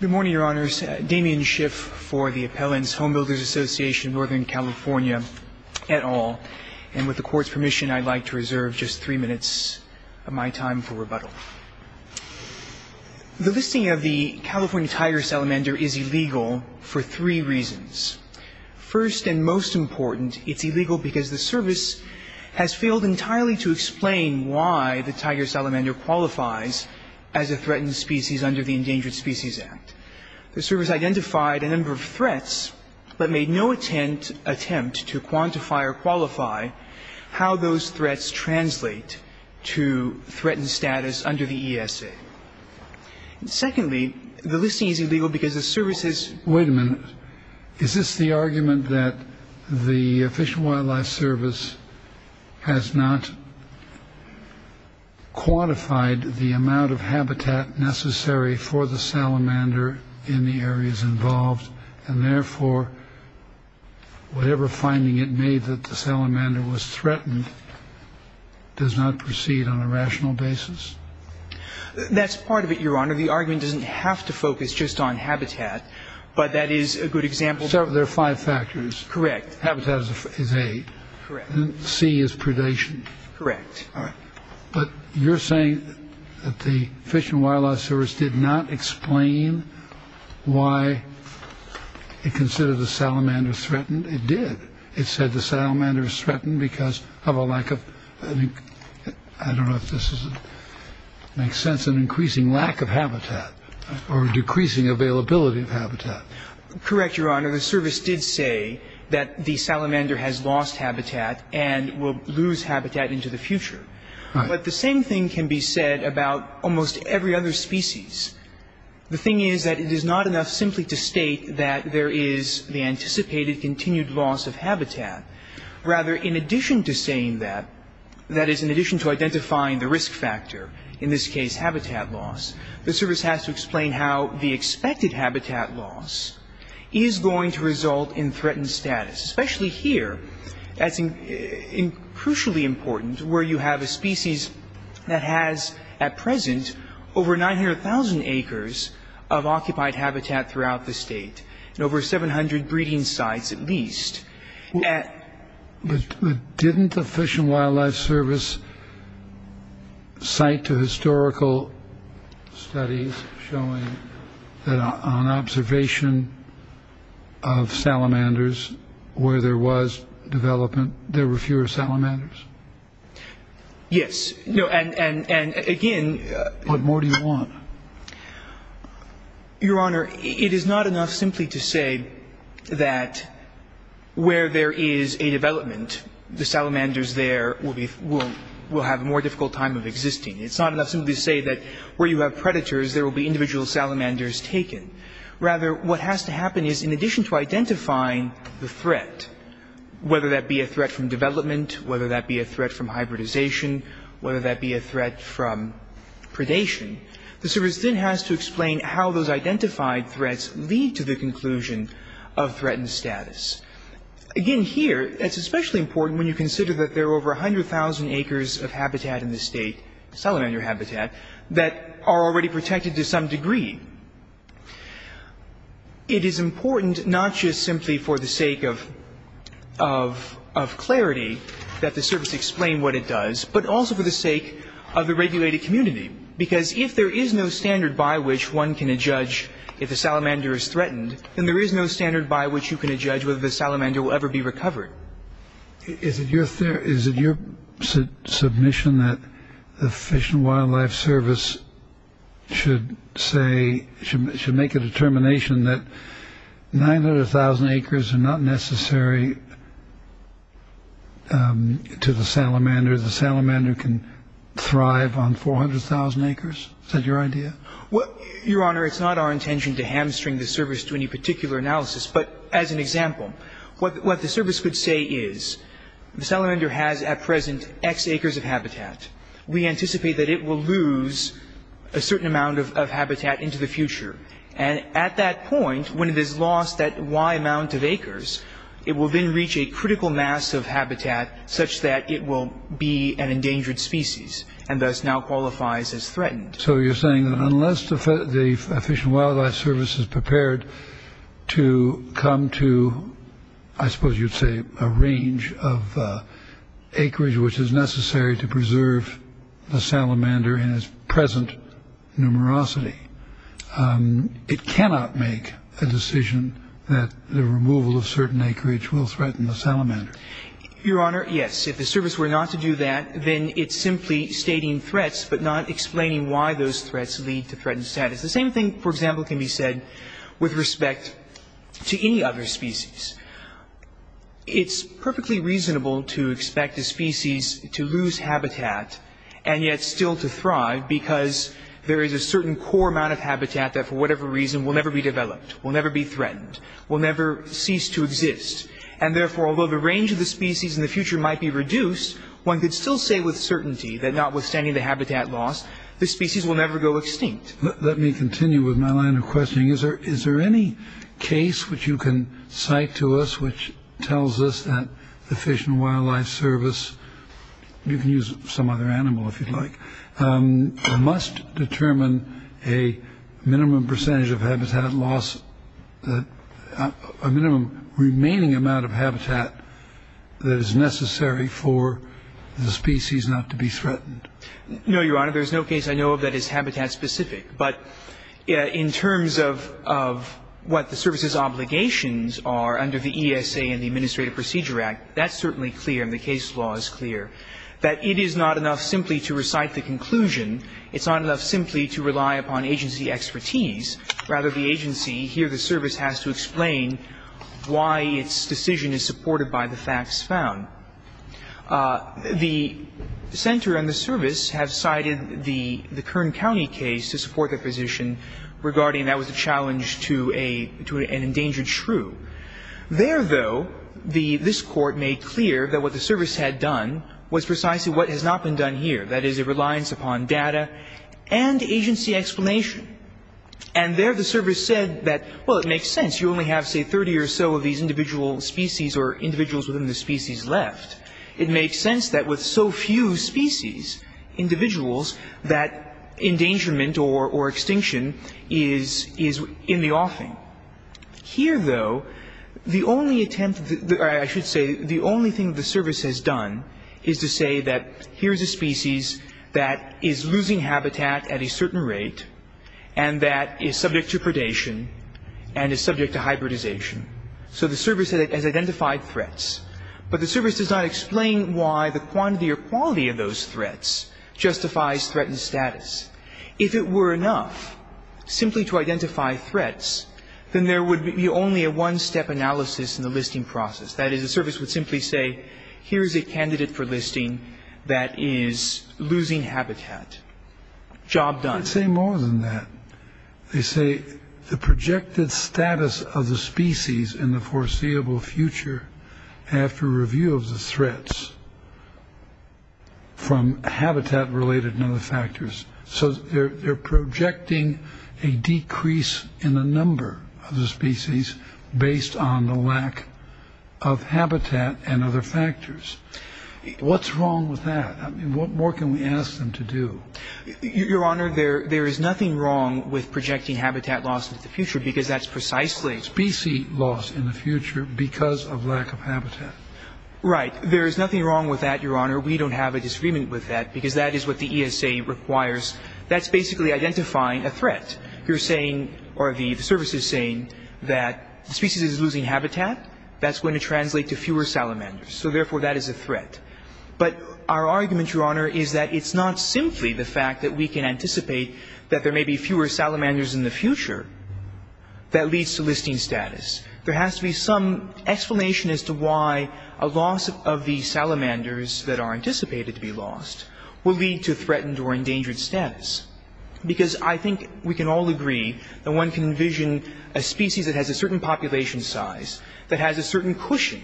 Good morning, Your Honors. Damian Schiff for the Appellant's Home Builders Association, Northern California et al. And with the Court's permission, I'd like to reserve just three minutes of my time for rebuttal. The listing of the California tiger salamander is illegal for three reasons. First and most important, it's illegal because the Service has failed entirely to explain why the tiger salamander qualifies as a threatened species under the Endangered Species Act. The Service identified a number of threats, but made no attempt to quantify or qualify how those threats translate to threatened status under the ESA. Secondly, the listing is illegal because the Service has... Wait a minute. Is this the argument that the Fish and Wildlife Service has not quantified the amount of habitat necessary for the salamander in the areas involved, and therefore whatever finding it made that the salamander was threatened does not proceed on a rational basis? That's part of it, Your Honor. The argument doesn't have to focus just on habitat, but that is a good example... So there are five factors. Correct. Habitat is A. Correct. And C is predation. Correct. But you're saying that the Fish and Wildlife Service did not explain why it considered the salamander threatened. It did. It said the salamander was threatened because of a lack of... I don't know if this makes sense, an increasing lack of habitat or decreasing availability of habitat. Correct, Your Honor. The Service did say that the salamander has lost habitat and will lose habitat into the future. But the same thing can be said about almost every other species. The thing is that it is not enough simply to state that there is the anticipated continued loss of habitat. Rather, in addition to saying that, that is, in addition to identifying the risk factor, in this case, habitat loss, the Service has to explain how the expected habitat loss is going to result in threatened status. Especially here, that's crucially important, where you have a species that has, at present, over 900,000 acres of occupied habitat throughout the state and over 700 breeding sites, at least. Didn't the Fish and Wildlife Service cite to historical studies showing that on observation of salamanders, where there was development, there were fewer salamanders? Yes, and again... What more do you want? Your Honor, it is not enough simply to say that where there is a development, the salamanders there will have a more difficult time of existing. It's not enough simply to say that where you have predators, there will be individual salamanders taken. Rather, what has to happen is, in addition to identifying the threat, whether that be a threat from development, whether that be a threat from hybridization, whether that be a threat from predation, the Service then has to explain how those identified threats lead to the conclusion of threatened status. Again, here, it's especially important when you consider that there are over 100,000 acres of habitat in the state, salamander habitat, that are already protected to some degree. It is important, not just simply for the sake of clarity that the Service explain what it does, but also for the sake of the regulated community. Because if there is no standard by which one can judge if a salamander is threatened, then there is no standard by which you can judge whether the salamander will ever be recovered. Is it your submission that the Fish and Wildlife Service should say, should make a determination that 900,000 acres are not necessary to the salamander? The salamander can thrive on 400,000 acres? Is that your idea? Your Honor, it's not our intention to hamstring the Service to any particular analysis, but as an example, what the Service could say is, the salamander has, at present, x acres of habitat. We anticipate that it will lose a certain amount of habitat into the future. And at that point, when it has lost that y amount of acres, it will then reach a critical mass of habitat, such that it will be an endangered species, and thus now qualifies as threatened. So you're saying that unless the Fish and Wildlife Service is prepared to come to, I suppose you'd say, a range of the salamander in its present numerosity, it cannot make a decision that the removal of certain acreage will threaten the salamander? Your Honor, yes. If the Service were not to do that, then it's simply stating threats, but not explaining why those threats lead to threatened status. The same thing, for example, can be said with respect to any other species. It's perfectly reasonable to expect a species to lose habitat, and yet still to thrive, because there is a certain core amount of habitat that, for whatever reason, will never be developed, will never be threatened, will never cease to exist. And therefore, although the range of the species in the future might be reduced, one could still say with certainty that, notwithstanding the habitat loss, the species will never go extinct. Let me continue with my line of questioning. Is there any case which you can cite to us which tells us that the Fish and Wildlife Service you can use some other animal if you'd like, must determine a minimum percentage of habitat loss, a minimum remaining amount of habitat that is necessary for the species not to be threatened? No, Your Honor, there's no case I know of that is habitat-specific, but in terms of what the Service's obligations are under the ESA and the Administrative Procedure Act, that's certainly clear, and the case law is clear, that it is not enough simply to recite the conclusion. It's not enough simply to rely upon agency expertise. Rather, the agency, here the Service, has to explain why its decision is supported by the facts found. The Center and the Service have cited the Kern County case to support their position regarding that was a challenge to an endangered shrew. There, though, this Court made clear that what the Service had done was precisely what has not been done here, that is, a reliance upon data and agency explanation. And there the Service said that, well, it makes sense, you only have, say, thirty or so of these individual species or individuals within the species left. It makes sense that with so few species, individuals, that endangerment or extinction is in the offing. Here, though, the only attempt, or I should say, the only thing the Service has done is to say that here's a species that is losing habitat at a certain rate and that is subject to predation and is subject to hybridization. So the Service has identified threats. But the Service does not explain why the quantity or quality of those threats justifies threatened status. If it were enough simply to identify threats, then there would be only a one-step analysis in the listing process. That is, the Service would simply say, here's a candidate for listing that is losing habitat. Job done. I'd say more than that. They say the projected status of the species in the foreseeable future after review of the threats from habitat-related and other factors. So they're projecting a decrease in the number of the species based on the lack of habitat and other factors. What's wrong with that? What more can we ask them to do? Your Honor, there is nothing wrong with projecting habitat loss into the future because that's precisely... Species loss in the future because of lack of habitat. Right. There is nothing wrong with that, Your Honor. We don't have a disagreement with that because that is what the ESA requires. That's basically identifying a threat. You're saying, or the Service is saying, that the species is losing habitat. That's going to translate to fewer salamanders. So therefore, that is a threat. But our argument, Your Honor, is that it's not simply the fact that we can anticipate that there may be fewer salamanders in the future that leads to listing status. There has to be some explanation as to why a loss of the salamanders that are anticipated to be lost will lead to threatened or endangered status. Because I think we can all agree that one can envision a species that has a certain population size, that has a certain cushion,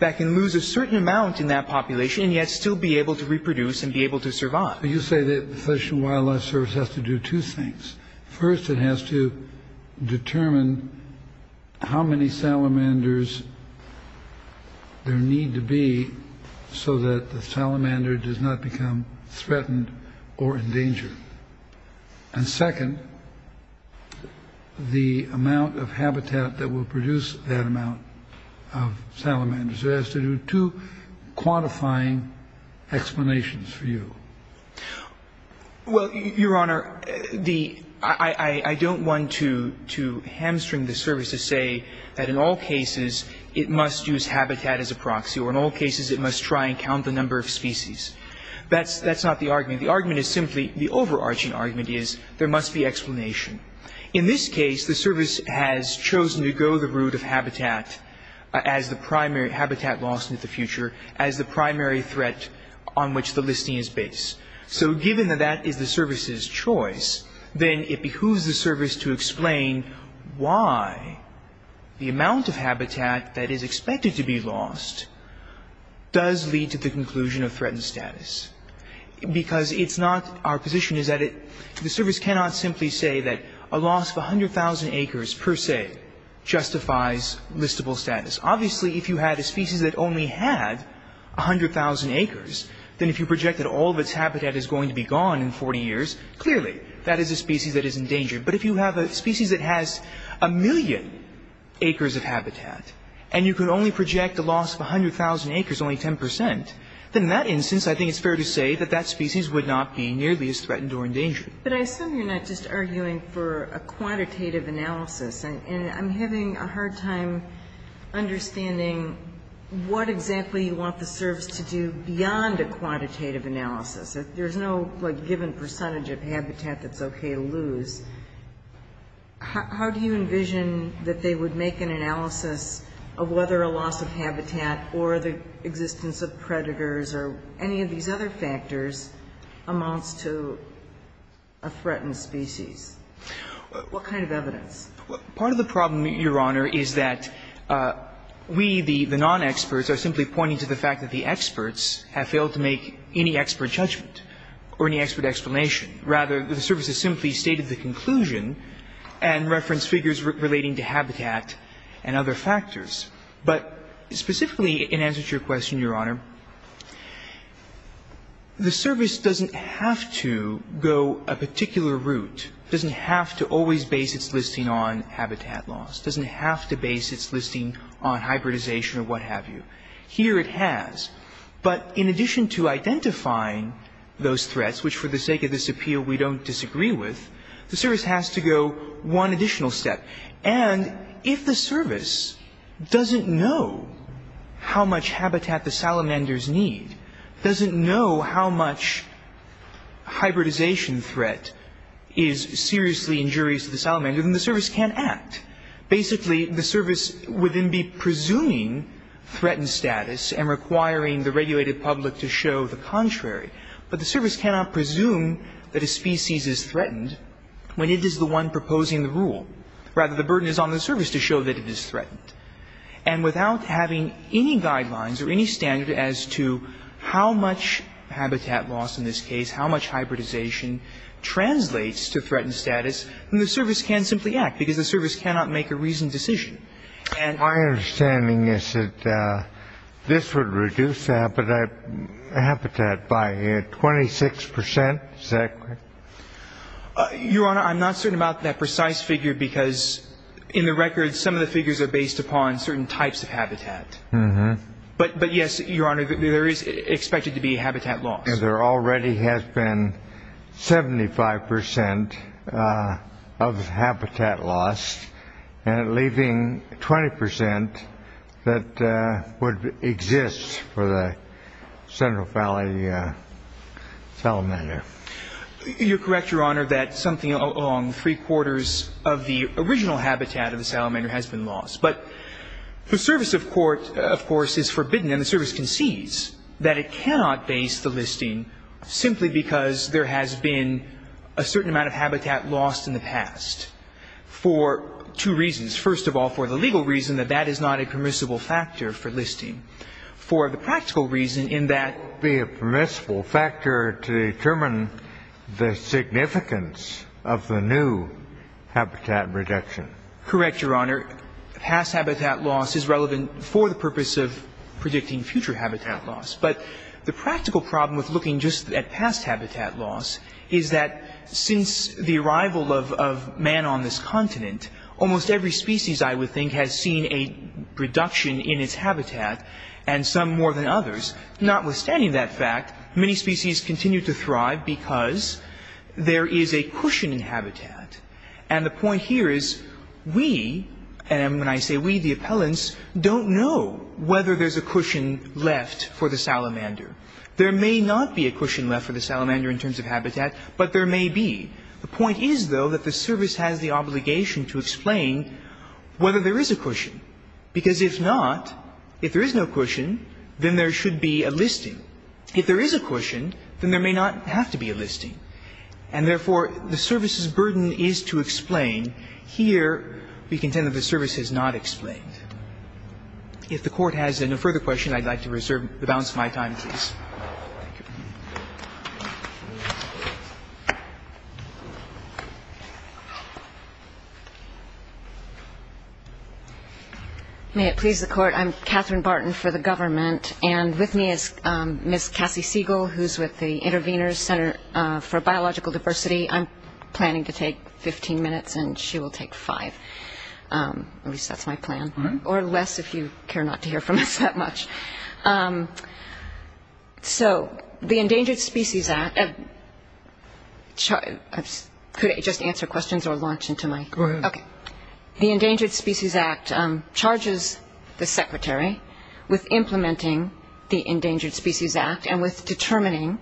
that can lose a certain amount in that population and yet still be able to reproduce and be able to survive. But you say that the Fish and Wildlife Service has to do two things. First, it has to determine how many salamanders there need to be so that the salamander does not become threatened or endangered. And second, the amount of habitat that will produce that amount of salamanders. It has to do two quantifying explanations for you. Well, Your Honor, I don't want to hamstring the service to say that in all cases it must use habitat as a proxy or in all cases it must try and count the number of species. That's not the argument. The argument is simply, the overarching argument is there must be explanation. In this case, the service has chosen to go the route of habitat as the primary habitat loss into the future as the primary threat on which the listing is based. So given that that is the service's choice, then it behooves the service to explain why the amount of habitat that is expected to be lost does lead to the conclusion of threatened status. Because it's not, our position is that the service cannot simply say that a loss of 100,000 acres per se justifies listable status. Obviously, if you had a species that only had 100,000 acres, then if you projected all of its habitat is going to be gone in 40 years, clearly that is a species that is endangered. But if you have a species that has a million acres of habitat and you could only project a loss of 100,000 acres, only 10 percent, then in that instance I think it's fair to say that that species would not be nearly as threatened or endangered. But I assume you're not just arguing for a quantitative analysis. And I'm having a hard time understanding what exactly you want the service to do beyond a quantitative analysis. If there's no, like, given percentage of habitat that's okay to lose, how do you envision that they would make an analysis of whether a loss of habitat or the existence of predators or any of these other factors amounts to a threatened species? What kind of evidence? Part of the problem, Your Honor, is that we, the non-experts, are simply pointing to the fact that the experts have failed to make any expert judgment or any expert explanation. Rather, the service has simply stated the conclusion and referenced figures relating to habitat and other factors. But specifically in answer to your question, Your Honor, the service doesn't have to go a particular route. It doesn't have to always base its listing on habitat loss. It doesn't have to base its listing on hybridization or what have you. Here it has. But in addition to identifying those threats, which for the sake of this appeal we don't disagree with, the service has to go one additional step. And if the service doesn't know how much habitat the salamanders need, doesn't know how much hybridization threat is seriously injurious to the salamander, then the service can't act. Basically, the service would then be presuming threatened status and requiring the regulated public to show the contrary. But the service cannot presume that a species is threatened when it is the one proposing the rule. Rather, the burden is on the service to show that it is threatened. And without having any guidelines or any standard as to how much habitat loss in this case, how much hybridization translates to threatened status, then the service can't simply act because the service cannot make a reasoned decision. And my understanding is that this would reduce the habitat by 26 percent. Is that correct? Your Honor, I'm not certain about that precise figure because, in the record, some of the figures are based upon certain types of habitat. But, yes, Your Honor, there is expected to be habitat loss. There already has been 75 percent of habitat loss, leaving 20 percent that would exist for the Central Valley salamander. You're correct, Your Honor, that something along three-quarters of the original habitat of the salamander has been lost. But the service of court, of course, is forbidden, and the service concedes that it cannot base the listing simply because there has been a certain amount of habitat lost in the past for two reasons. First of all, for the legal reason that that is not a permissible factor for listing. For the practical reason in that ---- It would be a permissible factor to determine the significance of the new habitat reduction. Correct, Your Honor. Past habitat loss is relevant for the purpose of predicting future habitat loss. But the practical problem with looking just at past habitat loss is that since the arrival of man on this continent, almost every species, I would think, has seen a reduction in its habitat, and some more than others. Notwithstanding that fact, many species continue to thrive because there is a cushion in habitat. And the point here is we, and when I say we, the appellants, don't know whether there's a cushion left for the salamander. There may not be a cushion left for the salamander in terms of habitat, but there may be. The point is, though, that the service has the obligation to explain whether there is a cushion, because if not, if there is no cushion, then there should be a listing. If there is a cushion, then there may not have to be a listing. And therefore, the service's burden is to explain. Here, we contend that the service has not explained. If the Court has no further questions, I'd like to reserve the balance of my time, please. Thank you. May it please the Court, I'm Catherine Barton for the government, and with me is Ms. Cassie Siegel, who's with the Intervenors Center for Biological Diversity. I'm planning to take 15 minutes, and she will take five. At least that's my plan. Or less, if you care not to hear from us that much. So the Endangered Species Act, could I just answer questions or launch into my? Go ahead. The Endangered Species Act charges the Secretary with implementing the Endangered Species Act and with determining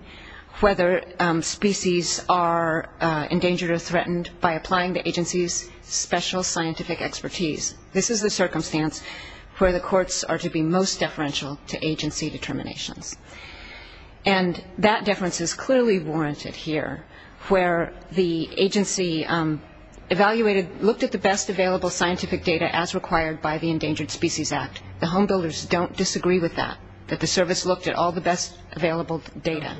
whether species are endangered or threatened by applying the agency's special scientific expertise. This is the circumstance where the courts are to be most deferential to agency determinations. And that deference is clearly warranted here, where the agency evaluated, looked at the best available scientific data as required by the Endangered Species Act. The home builders don't disagree with that, that the service looked at all the best available data.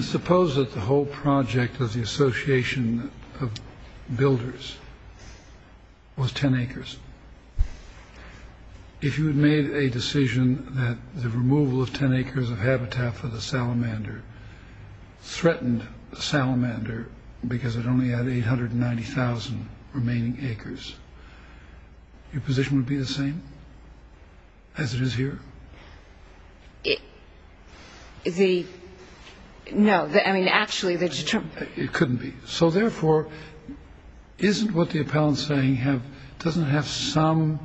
Suppose that the whole project of the Association of Builders was 10 acres. If you had made a decision that the removal of 10 acres of habitat for the salamander threatened the salamander because it only had 890,000 remaining acres, your position would be the same as it is here? The. No. I mean, actually, that's true. It couldn't be. So therefore, isn't what the appellant saying have doesn't have some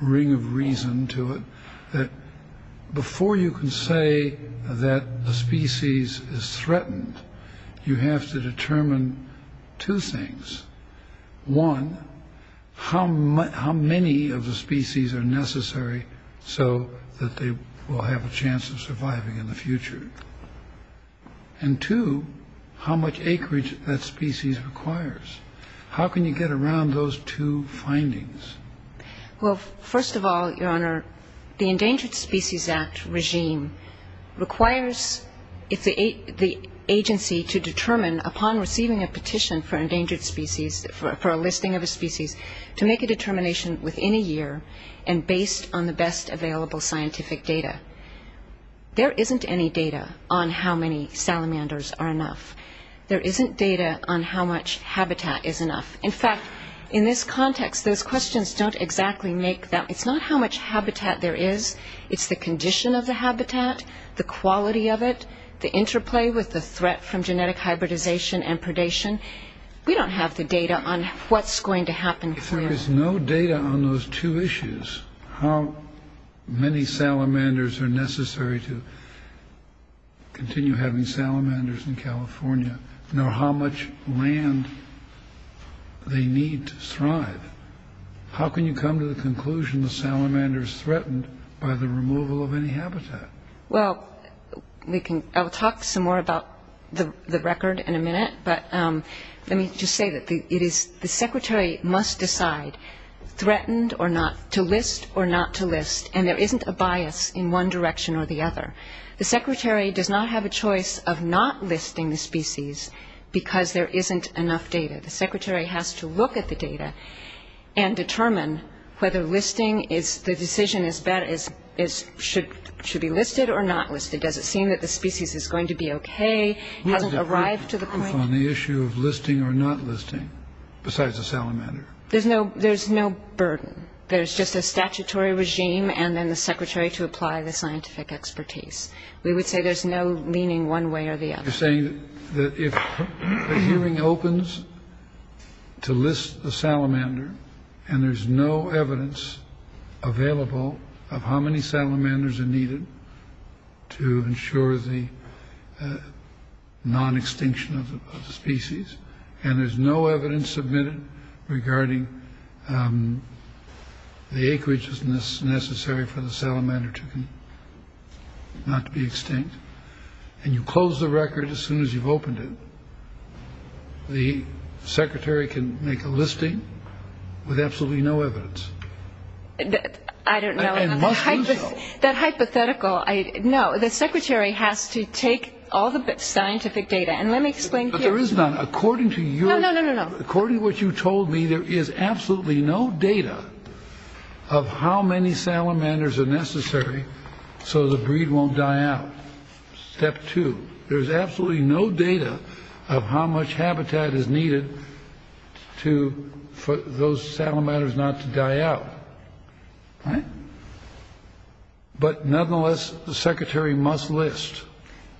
ring of reason to it. That before you can say that the species is threatened, you have to determine two things. One, how many of the species are necessary so that they will have a chance of surviving in the future? And two, how much acreage that species requires. How can you get around those two findings? Well, first of all, Your Honor, the Endangered Species Act regime requires the agency to determine, upon receiving a petition for a listing of a species, to make a determination within a year and based on the best available scientific data. There isn't any data on how many salamanders are enough. There isn't data on how much habitat is enough. In fact, in this context, those questions don't exactly make that. It's not how much habitat there is. It's the condition of the habitat, the quality of it, the interplay with the threat from genetic hybridization and predation. We don't have the data on what's going to happen. If there is no data on those two issues, how many salamanders are necessary to continue having salamanders in California, nor how much land they need to thrive, how can you come to the conclusion the salamander is threatened by the removal of any habitat? Well, I'll talk some more about the record in a minute, but let me just say that the secretary must decide threatened or not, to list or not to list, and there isn't a bias in one direction or the other. The secretary does not have a choice of not listing the species because there isn't enough data. The secretary has to look at the data and determine whether listing is the decision as bad as should be listed or not listed. Does it seem that the species is going to be okay? Has it arrived to the point? On the issue of listing or not listing, besides the salamander. There's no burden. There's just a statutory regime and then the secretary to apply the scientific expertise. We would say there's no meaning one way or the other. You're saying that if the hearing opens to list the salamander and there's no evidence available of how many salamanders are needed to ensure the non-extinction of the species and there's no evidence submitted regarding the acreage is necessary for the salamander to not be extinct and you close the record as soon as you've opened it, the secretary can make a listing with absolutely no evidence. I don't know. It must do so. That hypothetical, no. The secretary has to take all the scientific data. And let me explain here. But there is none. According to you. No, no, no, no, no. According to what you told me, there is absolutely no data of how many salamanders are necessary so the breed won't die out. Step two. There's absolutely no data of how much habitat is needed for those salamanders not to die out. Right. But nonetheless, the secretary must list.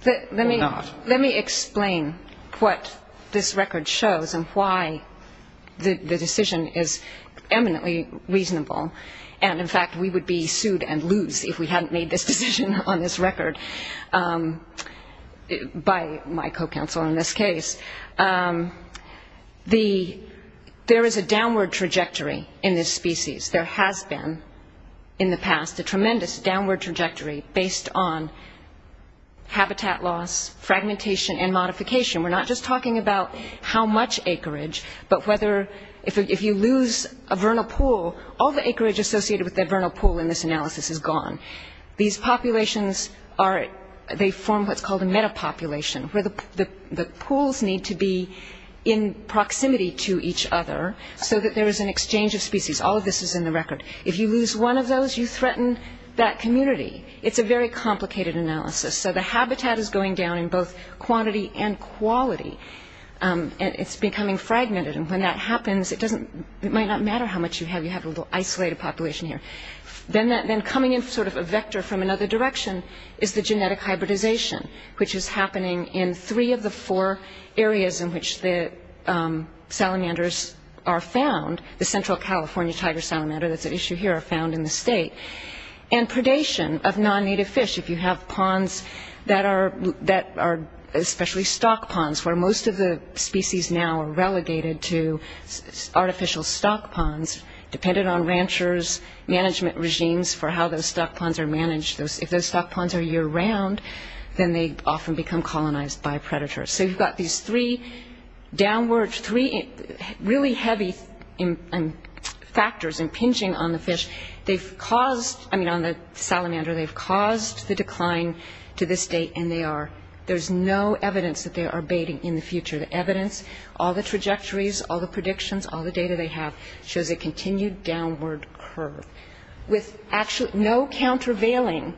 Let me explain what this record shows and why the decision is eminently reasonable. And, in fact, we would be sued and lose if we hadn't made this decision on this record by my co-counsel in this case. There is a downward trajectory in this species. There has been in the past a tremendous downward trajectory based on habitat loss, fragmentation, and modification. We're not just talking about how much acreage, but whether if you lose a vernal pool, all the acreage associated with that vernal pool in this analysis is gone. These populations, they form what's called a metapopulation, where the pools need to be in proximity to each other so that there is an exchange of species. All of this is in the record. If you lose one of those, you threaten that community. It's a very complicated analysis. So the habitat is going down in both quantity and quality. And it's becoming fragmented. And when that happens, it might not matter how much you have. You have a little isolated population here. Then coming in sort of a vector from another direction is the genetic hybridization, which is happening in three of the four areas in which the salamanders are found. The Central California tiger salamander that's at issue here are found in the state. And predation of non-native fish, if you have ponds that are especially stock ponds, where most of the species now are relegated to artificial stock ponds, dependent on ranchers' management regimes for how those stock ponds are managed. If those stock ponds are year-round, then they often become colonized by predators. So you've got these three downward, three really heavy factors impinging on the fish. They've caused, I mean, on the salamander, they've caused the decline to this date, and there's no evidence that they are baiting in the future. The evidence, all the trajectories, all the predictions, all the data they have shows a continued downward curve with actually no countervailing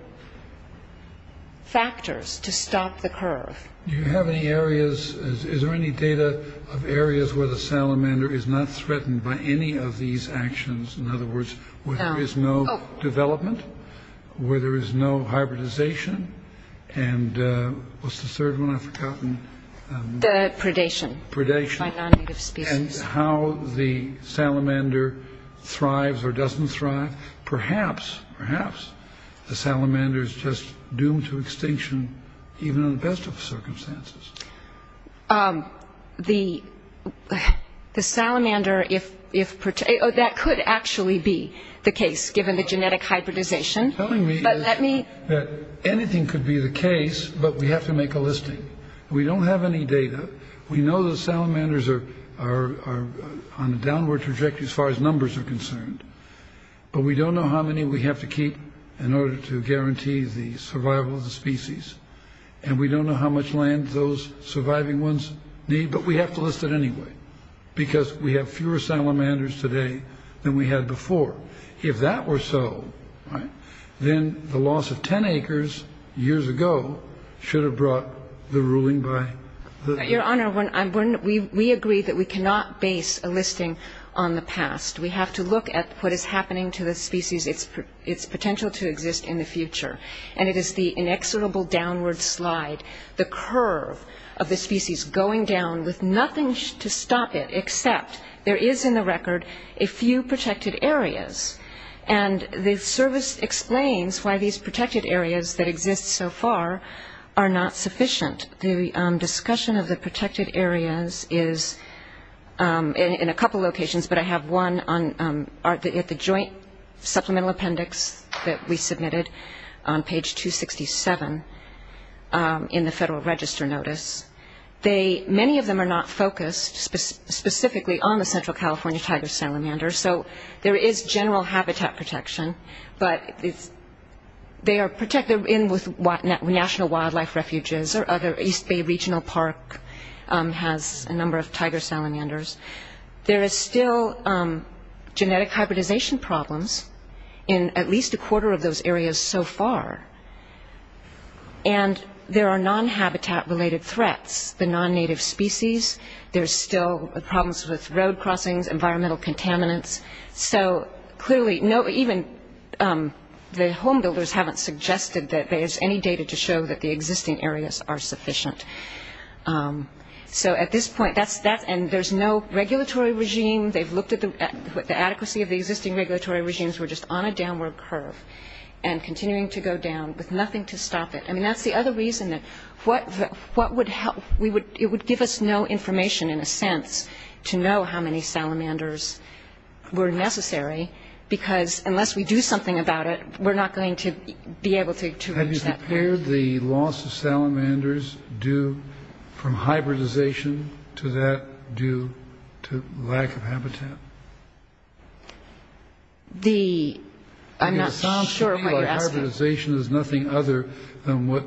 factors to stop the curve. Do you have any areas? Is there any data of areas where the salamander is not threatened by any of these actions? In other words, where there is no development, where there is no hybridization, and what's the third one I've forgotten? The predation. Predation. By non-native species. And how the salamander thrives or doesn't thrive. Perhaps, perhaps the salamander is just doomed to extinction even in the best of circumstances. The salamander, that could actually be the case, given the genetic hybridization. What you're telling me is that anything could be the case, but we have to make a listing. We don't have any data. We know the salamanders are on a downward trajectory as far as numbers are concerned, but we don't know how many we have to keep in order to guarantee the survival of the species, and we don't know how much land those surviving ones need, but we have to list it anyway because we have fewer salamanders today than we had before. If that were so, then the loss of 10 acres years ago should have brought the ruling by the... Your Honor, we agree that we cannot base a listing on the past. We have to look at what is happening to the species, its potential to exist in the future, and it is the inexorable downward slide, the curve of the species going down with nothing to stop it, except there is in the record a few protected areas, and the service explains why these protected areas that exist so far are not sufficient. The discussion of the protected areas is in a couple locations, but I have one at the Joint Supplemental Appendix that we submitted on page 267 in the Federal Register Notice. Many of them are not focused specifically on the Central California tiger salamander, so there is general habitat protection, but they are protected in with national wildlife refuges or other East Bay Regional Park has a number of tiger salamanders. There is still genetic hybridization problems in at least a quarter of those areas so far, and there are non-habitat-related threats, the non-native species. There are still problems with road crossings, environmental contaminants. So clearly even the home builders haven't suggested that there is any data to show that the existing areas are sufficient. So at this point, and there's no regulatory regime. They've looked at the adequacy of the existing regulatory regimes. We're just on a downward curve and continuing to go down with nothing to stop it. I mean, that's the other reason that what would help? It would give us no information in a sense to know how many salamanders were necessary, because unless we do something about it, we're not going to be able to reach that point. Were the loss of salamanders due from hybridization to that due to lack of habitat? I'm not sure what you're asking. Hybridization is nothing other than what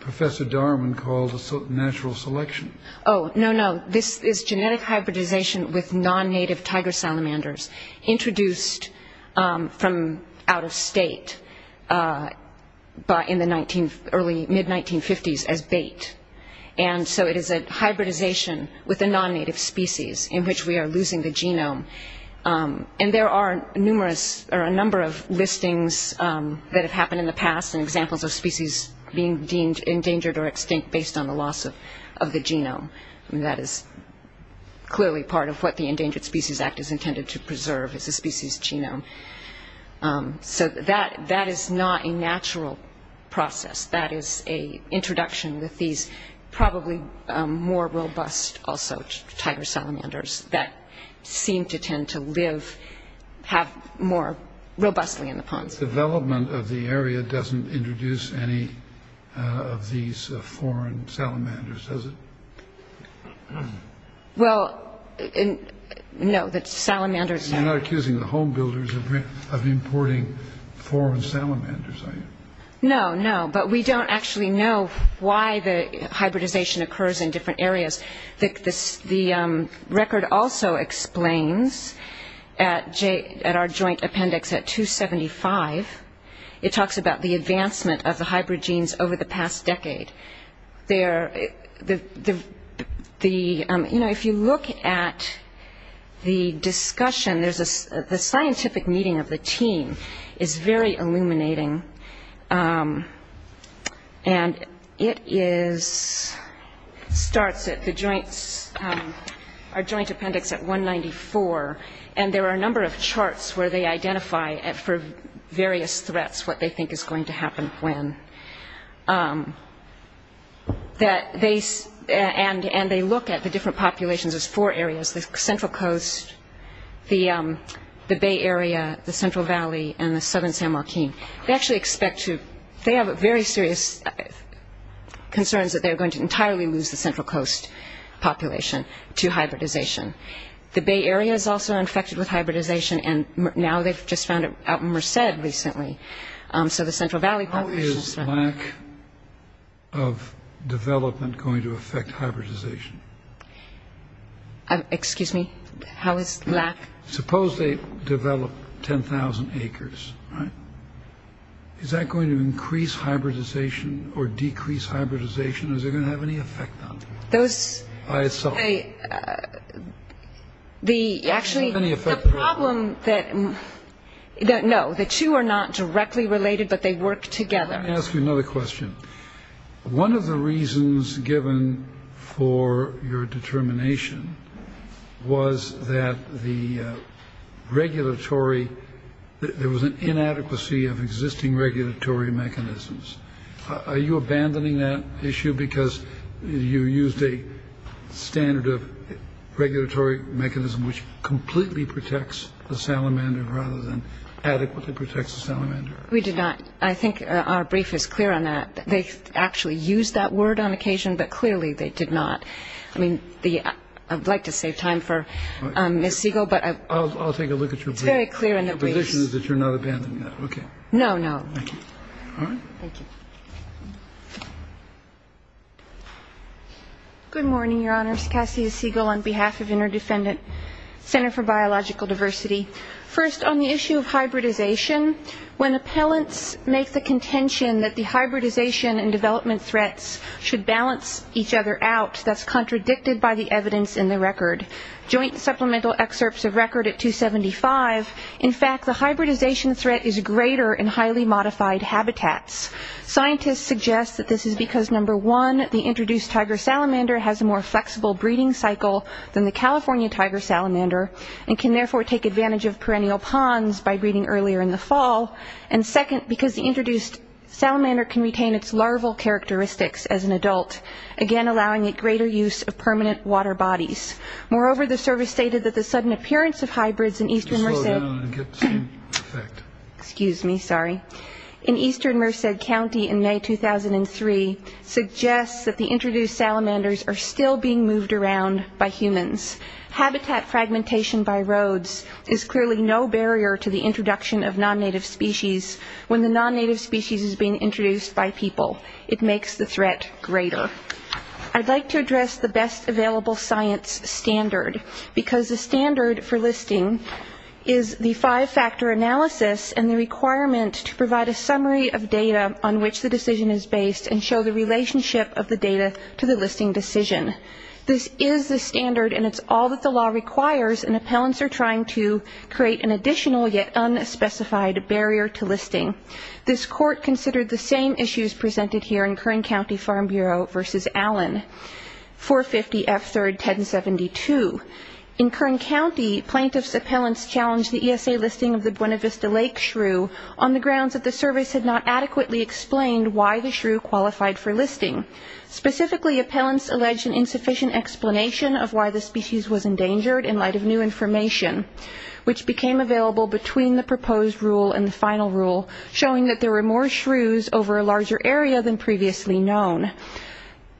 Professor Darman called natural selection. Oh, no, no. Hybridization is genetic hybridization with non-native tiger salamanders introduced from out-of-state in the mid-1950s as bait. And so it is a hybridization with a non-native species in which we are losing the genome. And there are a number of listings that have happened in the past and examples of species being endangered or extinct based on the loss of the genome. I mean, that is clearly part of what the Endangered Species Act is intended to preserve is a species genome. So that is not a natural process. That is an introduction with these probably more robust also tiger salamanders that seem to tend to live more robustly in the ponds. This development of the area doesn't introduce any of these foreign salamanders, does it? Well, no. You're not accusing the home builders of importing foreign salamanders, are you? No, no. But we don't actually know why the hybridization occurs in different areas. The record also explains at our joint appendix at 275, it talks about the advancement of the hybrid genes over the past decade. You know, if you look at the discussion, the scientific meeting of the team is very illuminating. And it starts at our joint appendix at 194, and there are a number of charts where they identify for various threats what they think is going to happen when. And they look at the different populations as four areas, the Central Coast, the Bay Area, the Central Valley, and the Southern San Joaquin. They actually expect to, they have very serious concerns that they're going to entirely lose the Central Coast population to hybridization. The Bay Area is also infected with hybridization, and now they've just found it out in Merced recently. So the Central Valley population is... How is lack of development going to affect hybridization? Excuse me? How is lack... Suppose they develop 10,000 acres, right? Is that going to increase hybridization or decrease hybridization? Is it going to have any effect on them? Those... Actually, the problem that... No, the two are not directly related, but they work together. Let me ask you another question. One of the reasons given for your determination was that the regulatory... There was an inadequacy of existing regulatory mechanisms. Are you abandoning that issue because you used a standard of regulatory mechanism which completely protects the salamander rather than adequately protects the salamander? We did not. I think our brief is clear on that. They actually used that word on occasion, but clearly they did not. I mean, I'd like to save time for Ms. Siegel, but... I'll take a look at your brief. It's very clear in the brief. The position is that you're not abandoning that. Okay. No, no. Thank you. Good morning, Your Honors. Cassie Siegel on behalf of Interdefendant Center for Biological Diversity. First, on the issue of hybridization, when appellants make the contention that the hybridization and development threats should balance each other out, that's contradicted by the evidence in the record. Joint supplemental excerpts of record at 275. In fact, the hybridization threat is greater in highly modified habitats. Scientists suggest that this is because, number one, the introduced tiger salamander has a more flexible breeding cycle than the California tiger salamander and can therefore take advantage of perennial ponds by breeding earlier in the fall, and second, because the introduced salamander can retain its larval characteristics as an adult, again allowing it greater use of permanent water bodies. Moreover, the service stated that the sudden appearance of hybrids in eastern Merced County in May 2003 suggests that the introduced salamanders are still being moved around by humans. Habitat fragmentation by roads is clearly no barrier to the introduction of non-native species when the non-native species is being introduced by people. It makes the threat greater. I'd like to address the best available science standard, because the standard for listing is the five-factor analysis and the requirement to provide a summary of data on which the decision is based and show the relationship of the data to the listing decision. This is the standard, and it's all that the law requires, and appellants are trying to create an additional yet unspecified barrier to listing. This court considered the same issues presented here in Kern County Farm Bureau v. Allen, 450 F. 3rd, 1072. In Kern County, plaintiffs' appellants challenged the ESA listing of the Buena Vista Lake shrew on the grounds that the service had not adequately explained why the shrew qualified for listing. Specifically, appellants alleged an insufficient explanation of why the species was endangered in light of new information, which became available between the proposed rule and the final rule showing that there were more shrews over a larger area than previously known.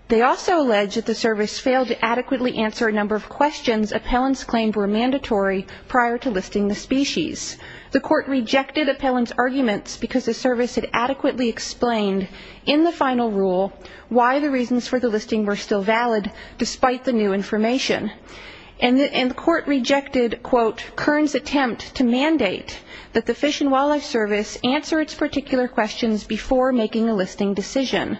They also alleged that the service failed to adequately answer a number of questions appellants claimed were mandatory prior to listing the species. The court rejected appellants' arguments because the service had adequately explained, in the final rule, why the reasons for the listing were still valid, despite the new information. And the court rejected, quote, Kern's attempt to mandate that the Fish and Wildlife Service answer its particular questions before making a listing decision.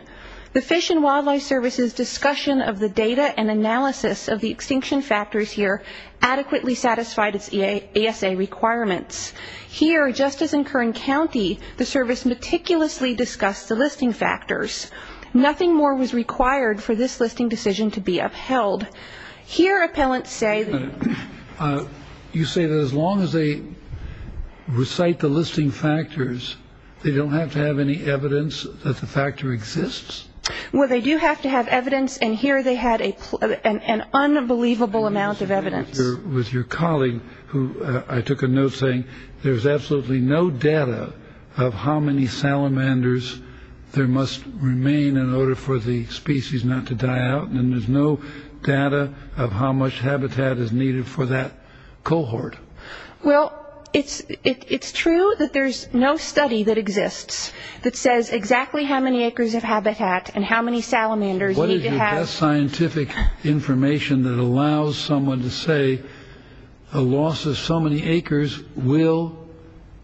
The Fish and Wildlife Service's discussion of the data and analysis of the extinction factors here adequately satisfied its ESA requirements. Here, just as in Kern County, the service meticulously discussed the listing factors. Nothing more was required for this listing decision to be upheld. Here, appellants say... You say that as long as they recite the listing factors, they don't have to have any evidence that the factor exists? Well, they do have to have evidence, and here they had an unbelievable amount of evidence. With your colleague, who I took a note saying, there's absolutely no data of how many salamanders there must remain in order for the species not to die out, and there's no data of how much habitat is needed for that cohort. Well, it's true that there's no study that exists that says exactly how many acres of habitat and how many salamanders need to have... What is your best scientific information that allows someone to say a loss of so many acres will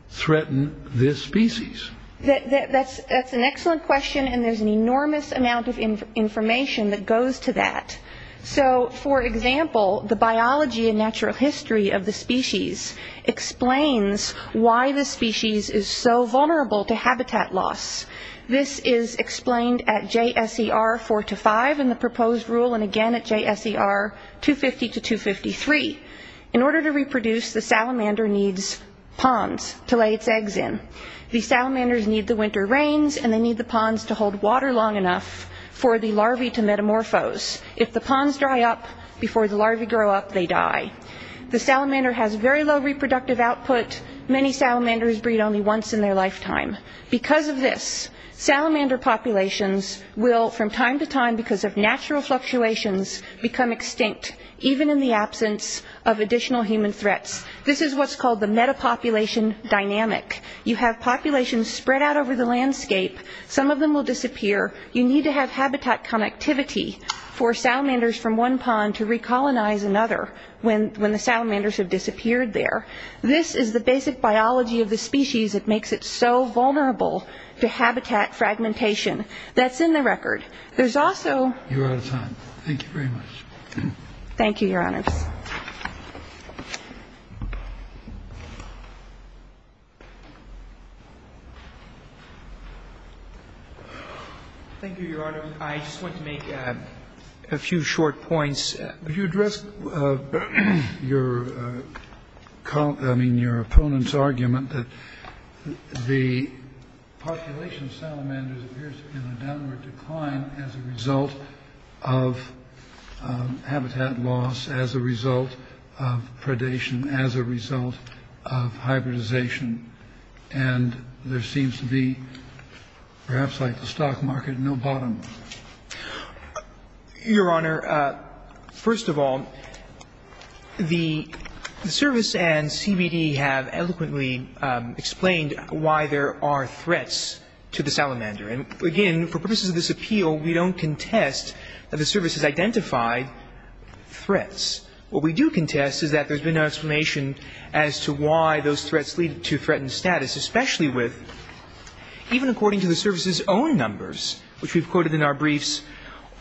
threaten this species? That's an excellent question, and there's an enormous amount of information that goes to that. For example, the biology and natural history of the species explains why the species is so vulnerable to habitat loss. This is explained at JSER 4-5 in the proposed rule, and again at JSER 250-253. In order to reproduce, the salamander needs ponds to lay its eggs in. The salamanders need the winter rains, and they need the ponds to hold water long enough for the larvae to metamorphose. If the ponds dry up before the larvae grow up, they die. The salamander has very low reproductive output. Many salamanders breed only once in their lifetime. Because of this, salamander populations will, from time to time, because of natural fluctuations, become extinct, even in the absence of additional human threats. This is what's called the metapopulation dynamic. You have populations spread out over the landscape. Some of them will disappear. You need to have habitat connectivity for salamanders from one pond to recolonize another when the salamanders have disappeared there. This is the basic biology of the species that makes it so vulnerable to habitat fragmentation. That's in the record. You're out of time. Thank you very much. Thank you, Your Honors. Thank you, Your Honor. I just want to make a few short points. If you address your opponent's argument that the population of salamanders appears to be in a downward decline as a result of habitat loss, as a result of predation, as a result of hybridization, and there seems to be, perhaps, like the stock market, no bottom. Your Honor, first of all, the service and CBD have eloquently explained why there are threats to the salamander. And, again, for purposes of this appeal, we don't contest that the service has identified threats. What we do contest is that there's been no explanation as to why those threats lead to threats. And that's because there's been no evidence of threatened status, especially with, even according to the service's own numbers, which we've quoted in our briefs,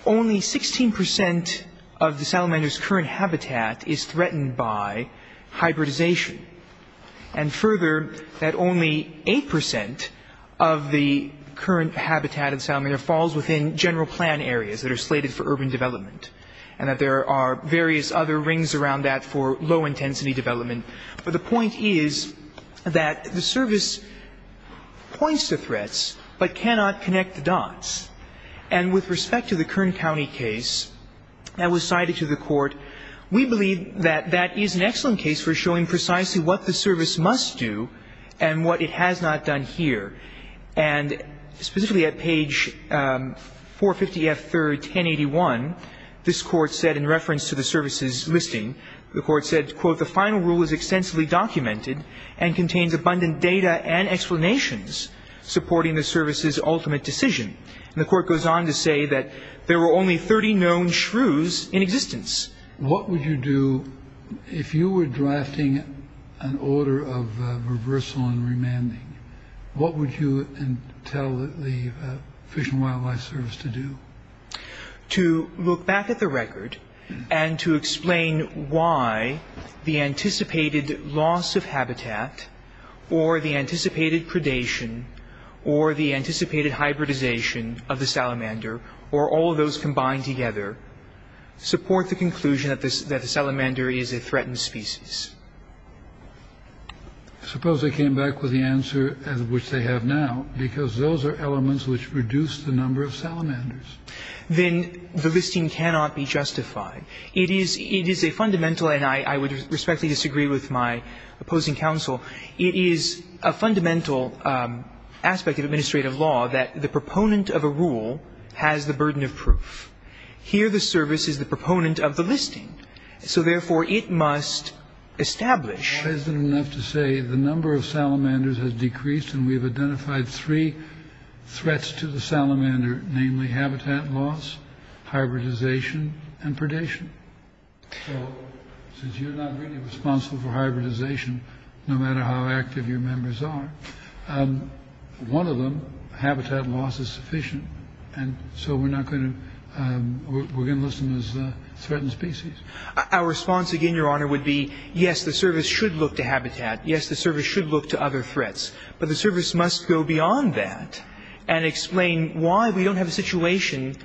only 16 percent of the salamander's current habitat is threatened by hybridization. And, further, that only 8 percent of the current habitat of the salamander falls within general plan areas that are slated for urban development. And that there are various other rings around that for low-intensity development. But the point is that the service points to threats, but cannot connect the dots. And with respect to the Kern County case that was cited to the Court, we believe that that is an excellent case for showing precisely what the service must do and what it has not done here. And specifically at page 450F3, 1081, this Court said, in reference to the service's listing, the Court said, quote, the final rule is extensively documented and contains abundant data and explanations supporting the service's ultimate decision. And the Court goes on to say that there were only 30 known shrews in existence. What would you do if you were drafting an order of reversal and remanding? What would you tell the Fish and Wildlife Service to do? To look back at the record and to explain why the anticipated loss of habitat or the anticipated predation or the anticipated hybridization of the salamander or all of those combined together support the conclusion that the salamander is a threatened species. Suppose they came back with the answer, which they have now, because those are elements which reduce the number of salamanders. Then the listing cannot be justified. It is a fundamental, and I would respectfully disagree with my opposing counsel, it is a fundamental aspect of administrative law that the proponent of a rule has the burden of proof. Here the service is the proponent of the listing. So, therefore, it must establish. That isn't enough to say the number of salamanders has decreased and we have identified three threats to the salamander, namely habitat loss, hybridization, and predation. So since you're not really responsible for hybridization, no matter how active your members are, one of them, habitat loss, is sufficient. And so we're not going to, we're going to list them as threatened species. Our response, again, Your Honor, would be, yes, the service should look to habitat. Yes, the service should look to other threats. But the service must go beyond that and explain why we don't have a situation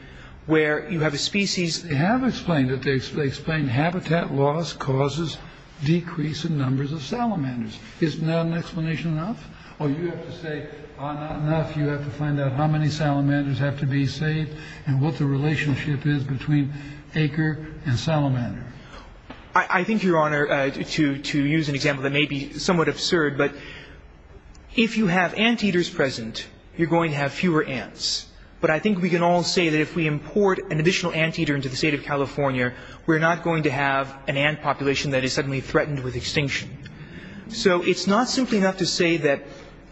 where you have a species. They have explained it. They explain habitat loss causes decrease in numbers of salamanders. Isn't that an explanation enough? Or you have to say, ah, not enough. You have to find out how many salamanders have to be saved and what the relationship is between acre and salamander. I think, Your Honor, to use an example that may be somewhat absurd, but if you have anteaters present, you're going to have fewer ants. But I think we can all say that if we import an additional anteater into the state of California, we're not going to have an ant population that is suddenly threatened with extinction. So it's not simply enough to say that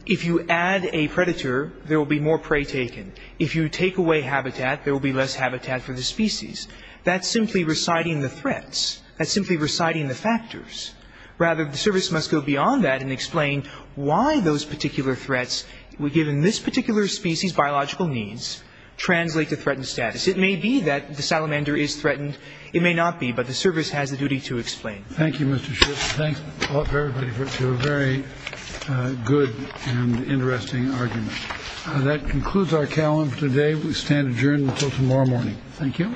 if you add a predator, there will be more prey taken. If you take away habitat, there will be less habitat for the species. That's simply reciting the threats. That's simply reciting the factors. Rather, the service must go beyond that and explain why those particular threats, given this particular species' biological needs, translate to threatened status. It may be that the salamander is threatened. It may not be, but the service has a duty to explain. Thank you, Mr. Schiff. Thanks to everybody for a very good and interesting argument. That concludes our calendar today. We stand adjourned until tomorrow morning. Thank you.